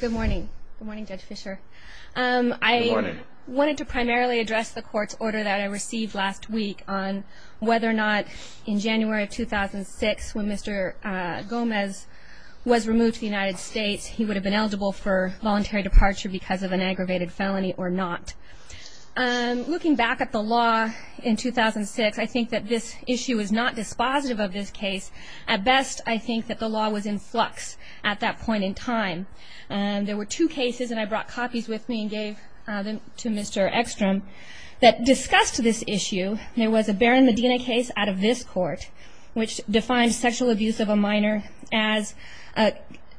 Good morning, Judge Fischer. I wanted to primarily address the court's order that I received last week on whether or not in January of 2006 when Mr. Gomez was removed to the United States, he would have been eligible for voluntary departure because of an aggravated felony or not. Looking back at the law in 2006, I think that this issue is not dispositive of this case. At best, I think that the law was in flux at that point in time. There were two cases, and I brought copies with me and gave them to Mr. Ekstrom, that discussed this issue. There was a Barron-Medina case out of this court, which defined sexual abuse of a minor as an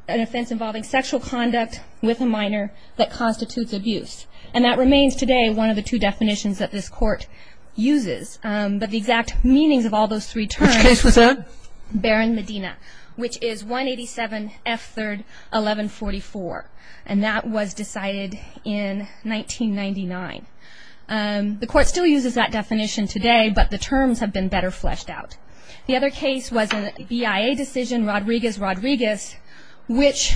offense involving sexual conduct with a minor that constitutes abuse. And that remains today one of the two definitions that this court uses. But the exact meanings of all those three terms… Which case was that? Barron-Medina, which is 187 F. 3rd. 1144. And that was decided in 1999. The court still uses that definition today, but the terms have been better fleshed out. The other case was a BIA decision, Rodriguez-Rodriguez, which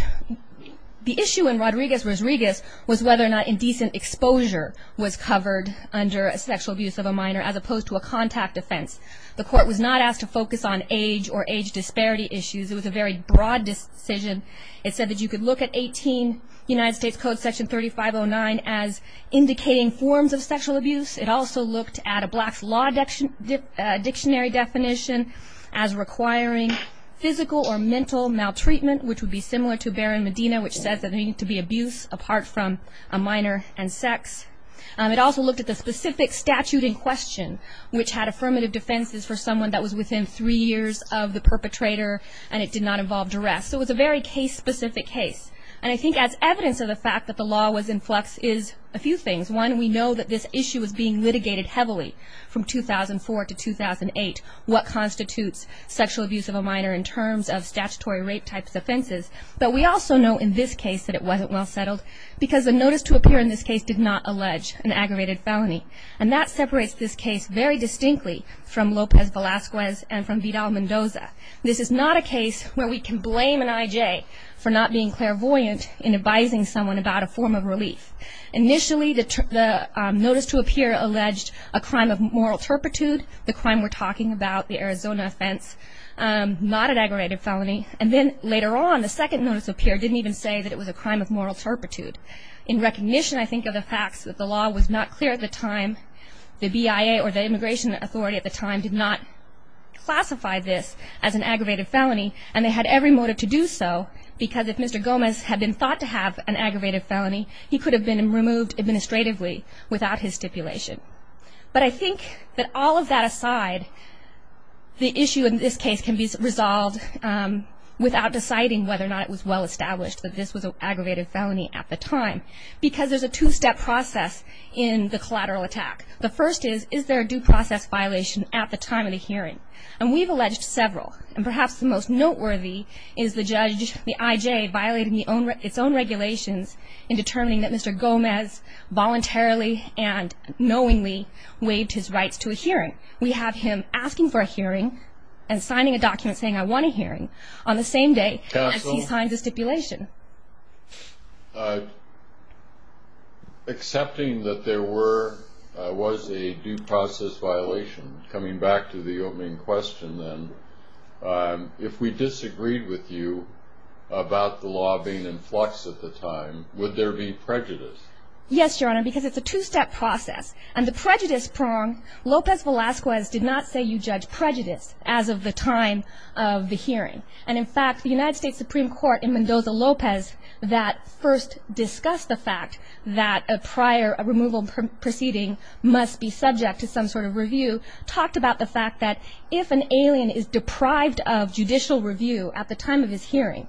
the issue in Rodriguez-Rodriguez was whether or not indecent exposure was covered under sexual abuse of a minor as opposed to a contact offense. The court was not asked to focus on age or age disparity issues. It was a very broad decision. It said that you could look at 18 United States Code Section 3509 as indicating forms of sexual abuse. It also looked at a black law dictionary definition as requiring physical or mental maltreatment, which would be similar to Barron-Medina, which says that there needs to be abuse apart from a minor and sex. It also looked at the specific statute in question, which had affirmative defenses for someone that was within three years of the perpetrator and it did not involve duress. So it was a very case-specific case. And I think as evidence of the fact that the law was in flux is a few things. One, we know that this issue was being litigated heavily from 2004 to 2008, what constitutes sexual abuse of a minor in terms of statutory rape-type offenses. But we also know in this case that it wasn't well settled because the notice to appear in this case did not allege an aggravated felony. And that separates this case very distinctly from Lopez Velazquez and from Vidal Mendoza. This is not a case where we can blame an I.J. for not being clairvoyant in advising someone about a form of relief. Initially, the notice to appear alleged a crime of moral turpitude. The crime we're talking about, the Arizona offense, not an aggravated felony. And then later on, the second notice to appear didn't even say that it was a crime of moral turpitude. In recognition, I think, of the facts that the law was not clear at the time, the BIA or the Immigration Authority at the time did not classify this as an aggravated felony. And they had every motive to do so because if Mr. Gomez had been thought to have an aggravated felony, he could have been removed administratively without his stipulation. But I think that all of that aside, the issue in this case can be resolved without deciding whether or not it was well established that this was an aggravated felony at the time. Because there's a two-step process in the collateral attack. The first is, is there a due process violation at the time of the hearing? And we've alleged several. And perhaps the most noteworthy is the judge, the IJ, violating its own regulations in determining that Mr. Gomez voluntarily and knowingly waived his rights to a hearing. We have him asking for a hearing and signing a document saying, I want a hearing on the same day as he signs a stipulation. Excepting that there was a due process violation, coming back to the opening question then, if we disagreed with you about the law being in flux at the time, would there be prejudice? Yes, Your Honor, because it's a two-step process. And the prejudice prong, Lopez Velazquez did not say you judge prejudice as of the time of the hearing. And, in fact, the United States Supreme Court in Mendoza-Lopez that first discussed the fact that a prior removal proceeding must be subject to some sort of review, talked about the fact that if an alien is deprived of judicial review at the time of his hearing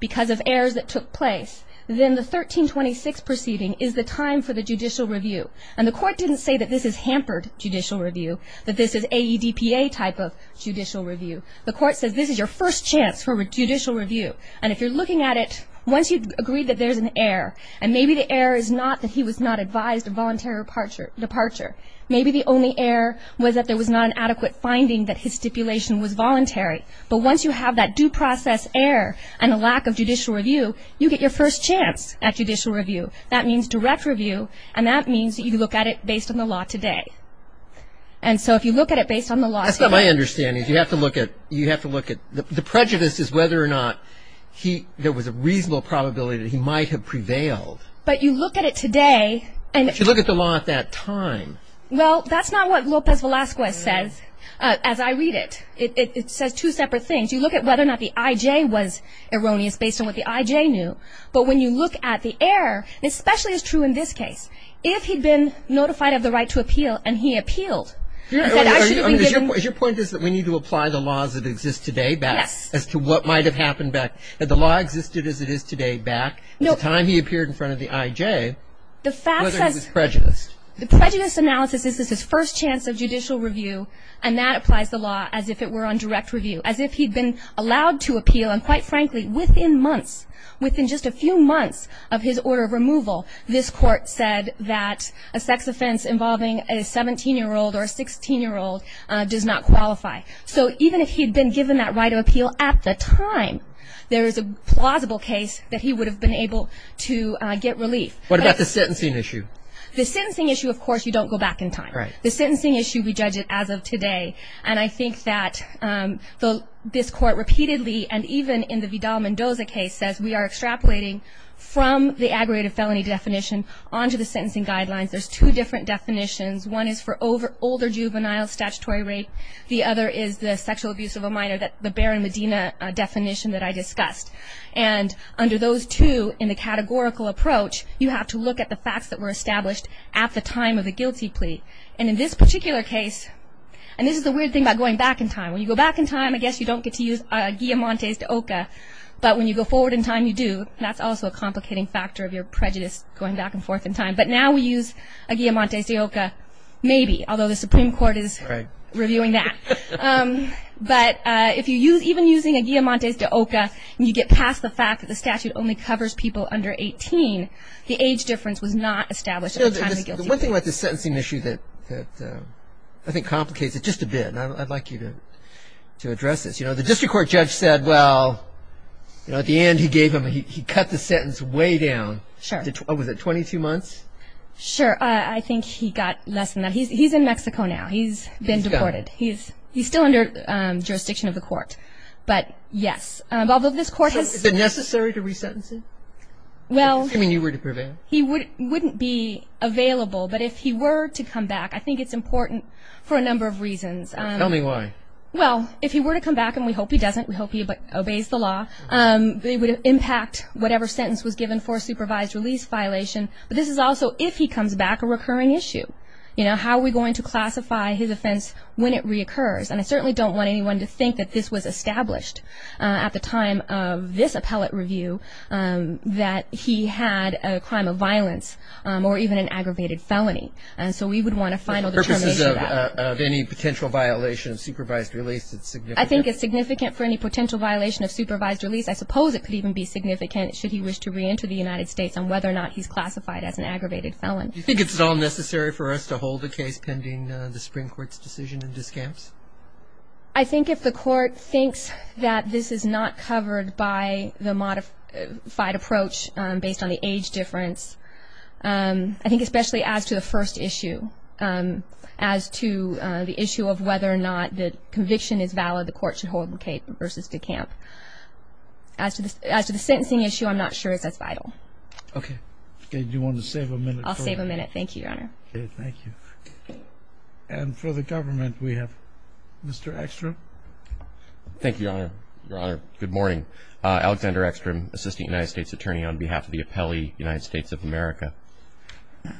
because of errors that took place, then the 1326 proceeding would be subject to some sort of review. So the 1326 proceeding is the time for the judicial review. And the court didn't say that this is hampered judicial review, that this is AEDPA type of judicial review. The court says this is your first chance for judicial review. And if you're looking at it, once you agree that there's an error, and maybe the error is not that he was not advised of voluntary departure, maybe the only error was that there was not an adequate finding that his stipulation was voluntary. But once you have that due process error and a lack of judicial review, you get your first chance at judicial review. That means direct review, and that means that you look at it based on the law today. And so if you look at it based on the law today. That's not my understanding. You have to look at, you have to look at, the prejudice is whether or not he, there was a reasonable probability that he might have prevailed. But you look at it today. But you look at the law at that time. Well, that's not what Lopez Velazquez says, as I read it. It says two separate things. You look at whether or not the IJ was erroneous based on what the IJ knew. But when you look at the error, and especially it's true in this case, if he'd been notified of the right to appeal and he appealed. Your point is that we need to apply the laws that exist today back as to what might have happened back. Had the law existed as it is today back at the time he appeared in front of the IJ, whether he was prejudiced. The prejudice analysis, this is his first chance of judicial review, and that applies the law as if it were on direct review. As if he'd been allowed to appeal, and quite frankly, within months, within just a few months of his order of removal, this court said that a sex offense involving a 17-year-old or a 16-year-old does not qualify. So even if he'd been given that right of appeal at the time, there is a plausible case that he would have been able to get relief. What about the sentencing issue? The sentencing issue, of course, you don't go back in time. Right. The sentencing issue, we judge it as of today. And I think that this court repeatedly, and even in the Vidal-Mendoza case, says we are extrapolating from the aggravated felony definition onto the sentencing guidelines. There's two different definitions. One is for older juvenile statutory rape. The other is the sexual abuse of a minor, the Barron-Medina definition that I discussed. And under those two, in the categorical approach, you have to look at the facts that were established at the time of the guilty plea. And in this particular case, and this is the weird thing about going back in time. When you go back in time, I guess you don't get to use a guillemontes de oca. But when you go forward in time, you do. That's also a complicating factor of your prejudice, going back and forth in time. But now we use a guillemontes de oca, maybe, although the Supreme Court is reviewing that. But even using a guillemontes de oca, you get past the fact that the statute only covers people under 18. The age difference was not established at the time of the guilty plea. One thing about this sentencing issue that I think complicates it just a bit, and I'd like you to address this. The district court judge said, well, at the end he gave him, he cut the sentence way down. Was it 22 months? Sure. I think he got less than that. He's in Mexico now. He's been deported. He's gone. He's still under jurisdiction of the court. But, yes, although this court has- So is it necessary to resentence him? Well- Assuming you were to prevail. He wouldn't be available. But if he were to come back, I think it's important for a number of reasons. Tell me why. Well, if he were to come back, and we hope he doesn't, we hope he obeys the law, it would impact whatever sentence was given for a supervised release violation. But this is also if he comes back a recurring issue. You know, how are we going to classify his offense when it reoccurs? And I certainly don't want anyone to think that this was established at the time of this appellate review that he had a crime of violence or even an aggravated felony. And so we would want a final determination of that. For purposes of any potential violation of supervised release, it's significant? I think it's significant for any potential violation of supervised release. I suppose it could even be significant, should he wish to reenter the United States, on whether or not he's classified as an aggravated felon. Do you think it's at all necessary for us to hold a case pending the Supreme Court's decision in this case? I think if the court thinks that this is not covered by the modified approach based on the age difference, I think especially as to the first issue, as to the issue of whether or not the conviction is valid, the court should hold the case versus decamp. As to the sentencing issue, I'm not sure if that's vital. Okay. Do you want to save a minute? I'll save a minute. Thank you, Your Honor. Okay. Thank you. And for the government, we have Mr. Ekstrom. Thank you, Your Honor. Your Honor, good morning. Alexander Ekstrom, Assistant United States Attorney on behalf of the Appellee United States of America.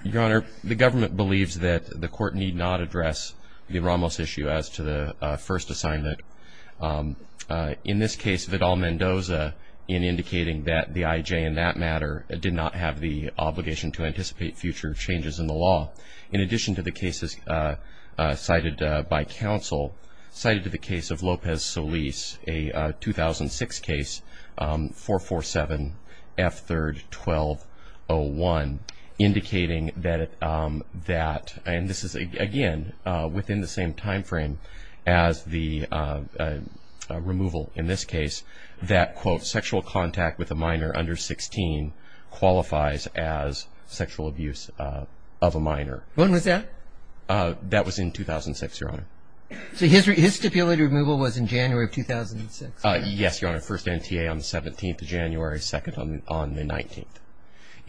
Your Honor, the government believes that the court need not address the Ramos issue as to the first assignment. In this case, Vidal-Mendoza, in indicating that the IJ, in that matter, did not have the obligation to anticipate future changes in the law. In addition to the cases cited by counsel, cited to the case of Lopez-Solis, a 2006 case, 447F3-1201, indicating that, and this is, again, within the same timeframe as the removal in this case, that, quote, sexual contact with a minor under 16 qualifies as sexual abuse of a minor. When was that? That was in 2006, Your Honor. So his stipulated removal was in January of 2006? Yes, Your Honor. First NTA on the 17th of January, second on the 19th.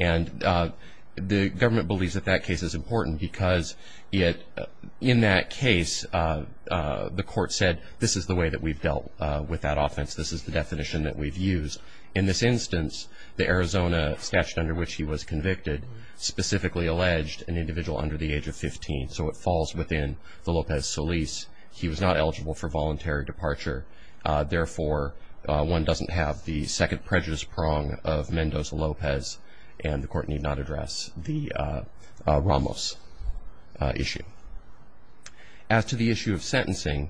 And the government believes that that case is important because it, in that case, the court said this is the way that we've dealt with that offense. This is the definition that we've used. In this instance, the Arizona statute under which he was convicted specifically alleged an individual under the age of 15. So it falls within the Lopez-Solis. He was not eligible for voluntary departure. Therefore, one doesn't have the second prejudice prong of Mendoza-Lopez, and the court need not address the Ramos issue. As to the issue of sentencing,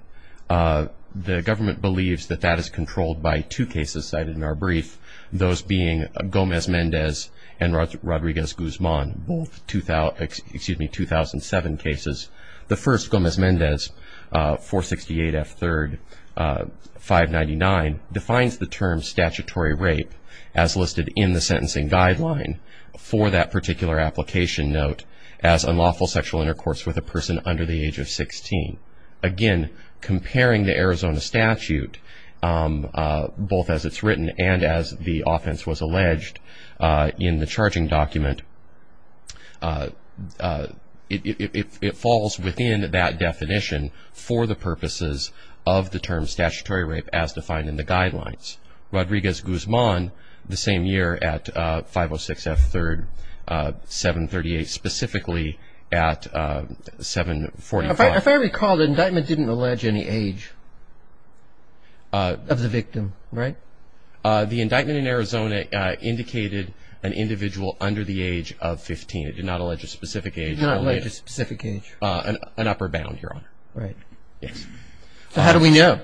the government believes that that is controlled by two cases cited in our brief, those being Gomez-Mendez and Rodriguez-Guzman, both 2007 cases. The first, Gomez-Mendez, 468F3, 599, defines the term statutory rape as listed in the sentencing guideline for that particular application note as unlawful sexual intercourse with a person under the age of 16. Again, comparing the Arizona statute, both as it's written and as the offense was alleged in the charging document, it falls within that definition for the purposes of the term statutory rape as defined in the guidelines. Rodriguez-Guzman, the same year at 506F3, 738, specifically at 745. If I recall, the indictment didn't allege any age of the victim, right? The indictment in Arizona indicated an individual under the age of 15. It did not allege a specific age. It did not allege a specific age. An upper bound, Your Honor. Right. Yes. So how do we know?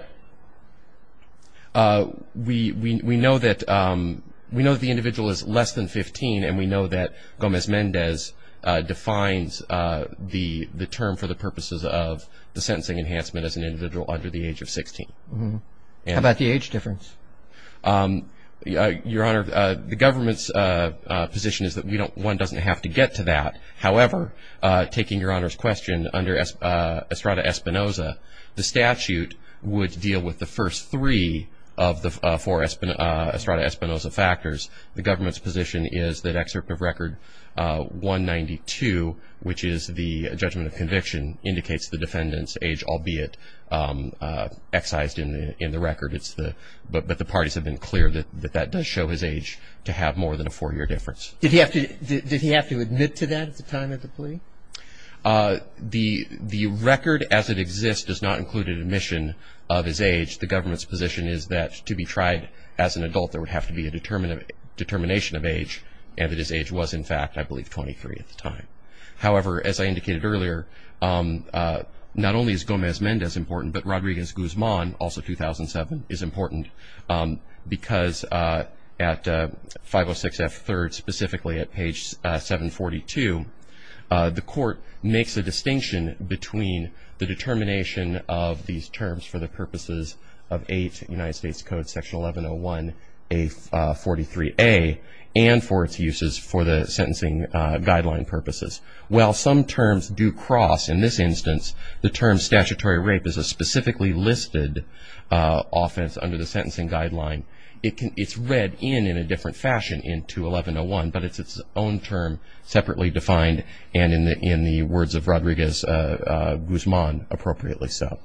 We know that the individual is less than 15, and we know that Gomez-Mendez defines the term for the purposes of the sentencing enhancement as an individual under the age of 16. How about the age difference? Your Honor, the government's position is that one doesn't have to get to that. However, taking Your Honor's question, under Estrada-Espinoza, the statute would deal with the first three of the four Estrada-Espinoza factors. The government's position is that excerpt of record 192, which is the judgment of conviction, indicates the defendant's age, albeit excised in the record. But the parties have been clear that that does show his age to have more than a four-year difference. Did he have to admit to that at the time of the plea? The record as it exists does not include an admission of his age. The government's position is that to be tried as an adult, there would have to be a determination of age, and that his age was, in fact, I believe 23 at the time. However, as I indicated earlier, not only is Gomez-Mendez important, but Rodriguez-Guzman, also 2007, is important because at 506F3rd, specifically at page 742, the court makes a distinction between the determination of these terms for the purposes of 8 United States Code section 1101A43A, and for its uses for the sentencing guideline purposes. While some terms do cross, in this instance, the term statutory rape is a specifically listed offense under the sentencing guideline, it's read in in a different fashion in 21101, but it's its own term separately defined, and in the words of Rodriguez-Guzman, appropriately so.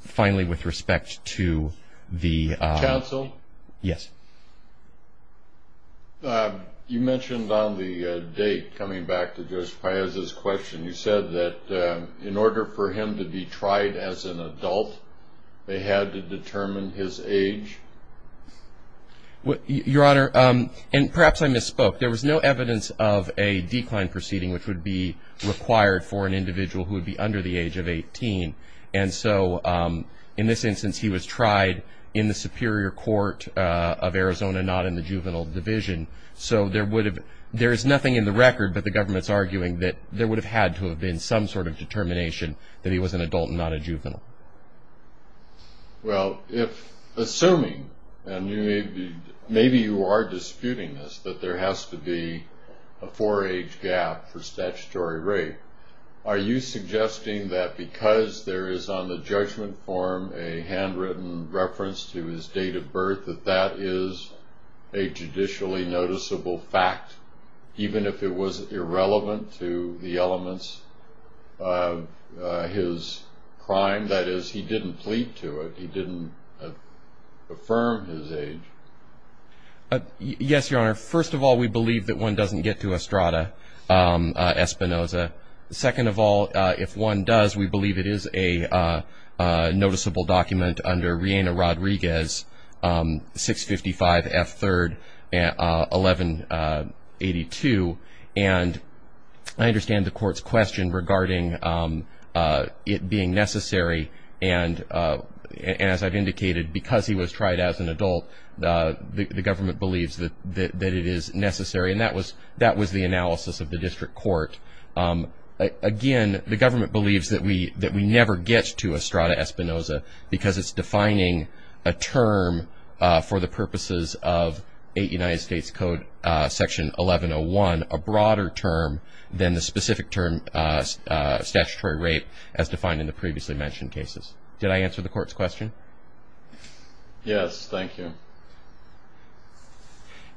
Finally, with respect to the- Counsel? Yes. You mentioned on the date, coming back to Judge Paez's question, you said that in order for him to be tried as an adult, they had to determine his age? Your Honor, and perhaps I misspoke. There was no evidence of a decline proceeding which would be required for an individual who would be under the age of 18, and so in this instance, he was tried in the Superior Court of Arizona, not in the juvenile division. So there is nothing in the record, but the government's arguing that there would have had to have been some sort of determination that he was an adult and not a juvenile. Well, assuming, and maybe you are disputing this, that there has to be a four-age gap for statutory rape, are you suggesting that because there is on the judgment form a handwritten reference to his date of birth, that that is a judicially noticeable fact, even if it was irrelevant to the elements of his crime? The point of that is he didn't plead to it. He didn't affirm his age. Yes, Your Honor. First of all, we believe that one doesn't get to Estrada Espinoza. Second of all, if one does, we believe it is a noticeable document under Riena Rodriguez, 655 F. 3rd, 1182. And I understand the court's question regarding it being necessary, and as I've indicated, because he was tried as an adult, the government believes that it is necessary, and that was the analysis of the district court. Again, the government believes that we never get to Estrada Espinoza because it's defining a term for the purposes of United States Code Section 1101, a broader term than the specific term statutory rape as defined in the previously mentioned cases. Did I answer the court's question? Yes. Thank you.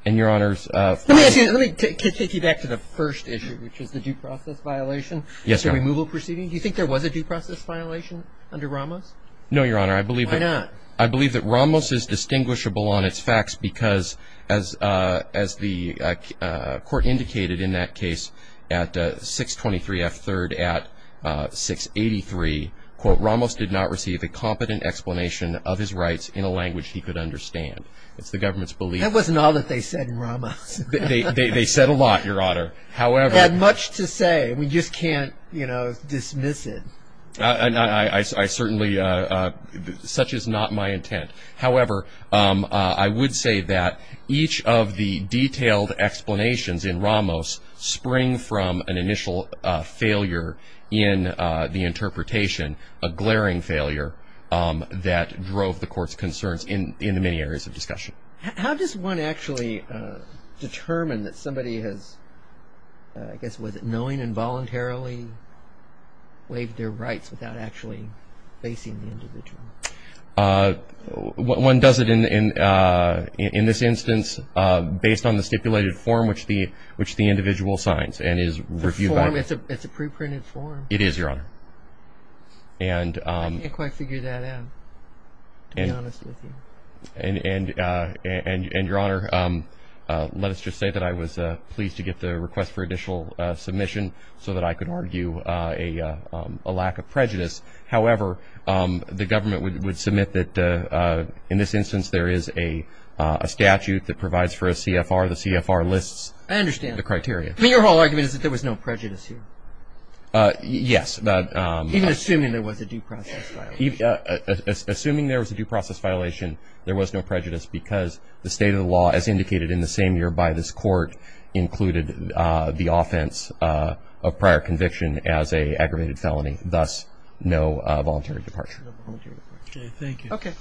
And, Your Honor, let me take you back to the first issue, which is the due process violation. Yes, Your Honor. The removal proceeding. Do you think there was a due process violation under Ramos? No, Your Honor. Why not? I believe that Ramos is distinguishable on its facts because, as the court indicated in that case at 623 F. 3rd at 683, quote, Ramos did not receive a competent explanation of his rights in a language he could understand. It's the government's belief. That wasn't all that they said in Ramos. They said a lot, Your Honor. However. They had much to say. We just can't, you know, dismiss it. And I certainly, such is not my intent. However, I would say that each of the detailed explanations in Ramos spring from an initial failure in the interpretation, a glaring failure that drove the court's concerns in the many areas of discussion. How does one actually determine that somebody has, I guess, knowing involuntarily waived their rights without actually facing the individual? One does it in this instance based on the stipulated form which the individual signs and is reviewed. The form? It's a preprinted form. It is, Your Honor. I can't quite figure that out, to be honest with you. And, Your Honor, let us just say that I was pleased to get the request for additional submission so that I could argue a lack of prejudice. However, the government would submit that in this instance there is a statute that provides for a CFR. The CFR lists the criteria. I understand. I mean, your whole argument is that there was no prejudice here. Yes. Even assuming there was a due process violation. Assuming there was a due process violation, there was no prejudice because the state of the law, as indicated in the same year by this court, included the offense of prior conviction as an aggravated felony, thus no voluntary departure. Okay, thank you. Okay.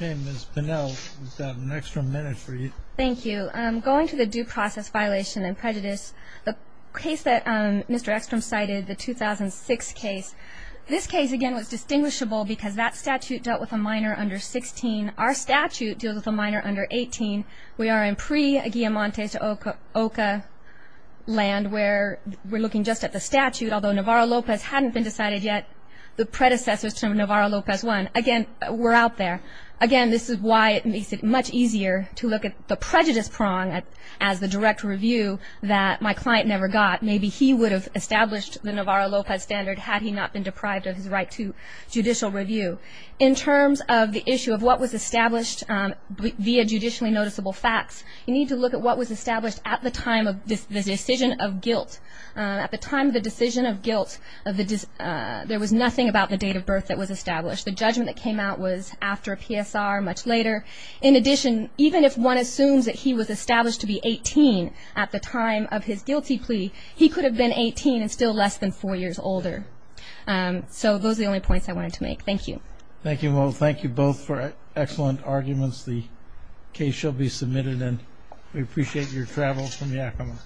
Ms. Bunnell, we've got an extra minute for you. Thank you. Going to the due process violation and prejudice, the case that Mr. Eckstrom cited, the 2006 case, this case, again, was distinguishable because that statute dealt with a minor under 16. Our statute deals with a minor under 18. We are in pre-Guillamante to OCA land where we're looking just at the statute, although Navarro-Lopez hadn't been decided yet. The predecessors to Navarro-Lopez won. Again, we're out there. Again, this is why it makes it much easier to look at the prejudice prong as the direct review that my client never got. Maybe he would have established the Navarro-Lopez standard had he not been deprived of his right to judicial review. In terms of the issue of what was established via judicially noticeable facts, you need to look at what was established at the time of the decision of guilt. At the time of the decision of guilt, there was nothing about the date of birth that was established. The judgment that came out was after a PSR, much later. In addition, even if one assumes that he was established to be 18 at the time of his guilty plea, he could have been 18 and still less than four years older. So those are the only points I wanted to make. Thank you. Thank you both for excellent arguments. The case shall be submitted, and we appreciate your travel from Yakima.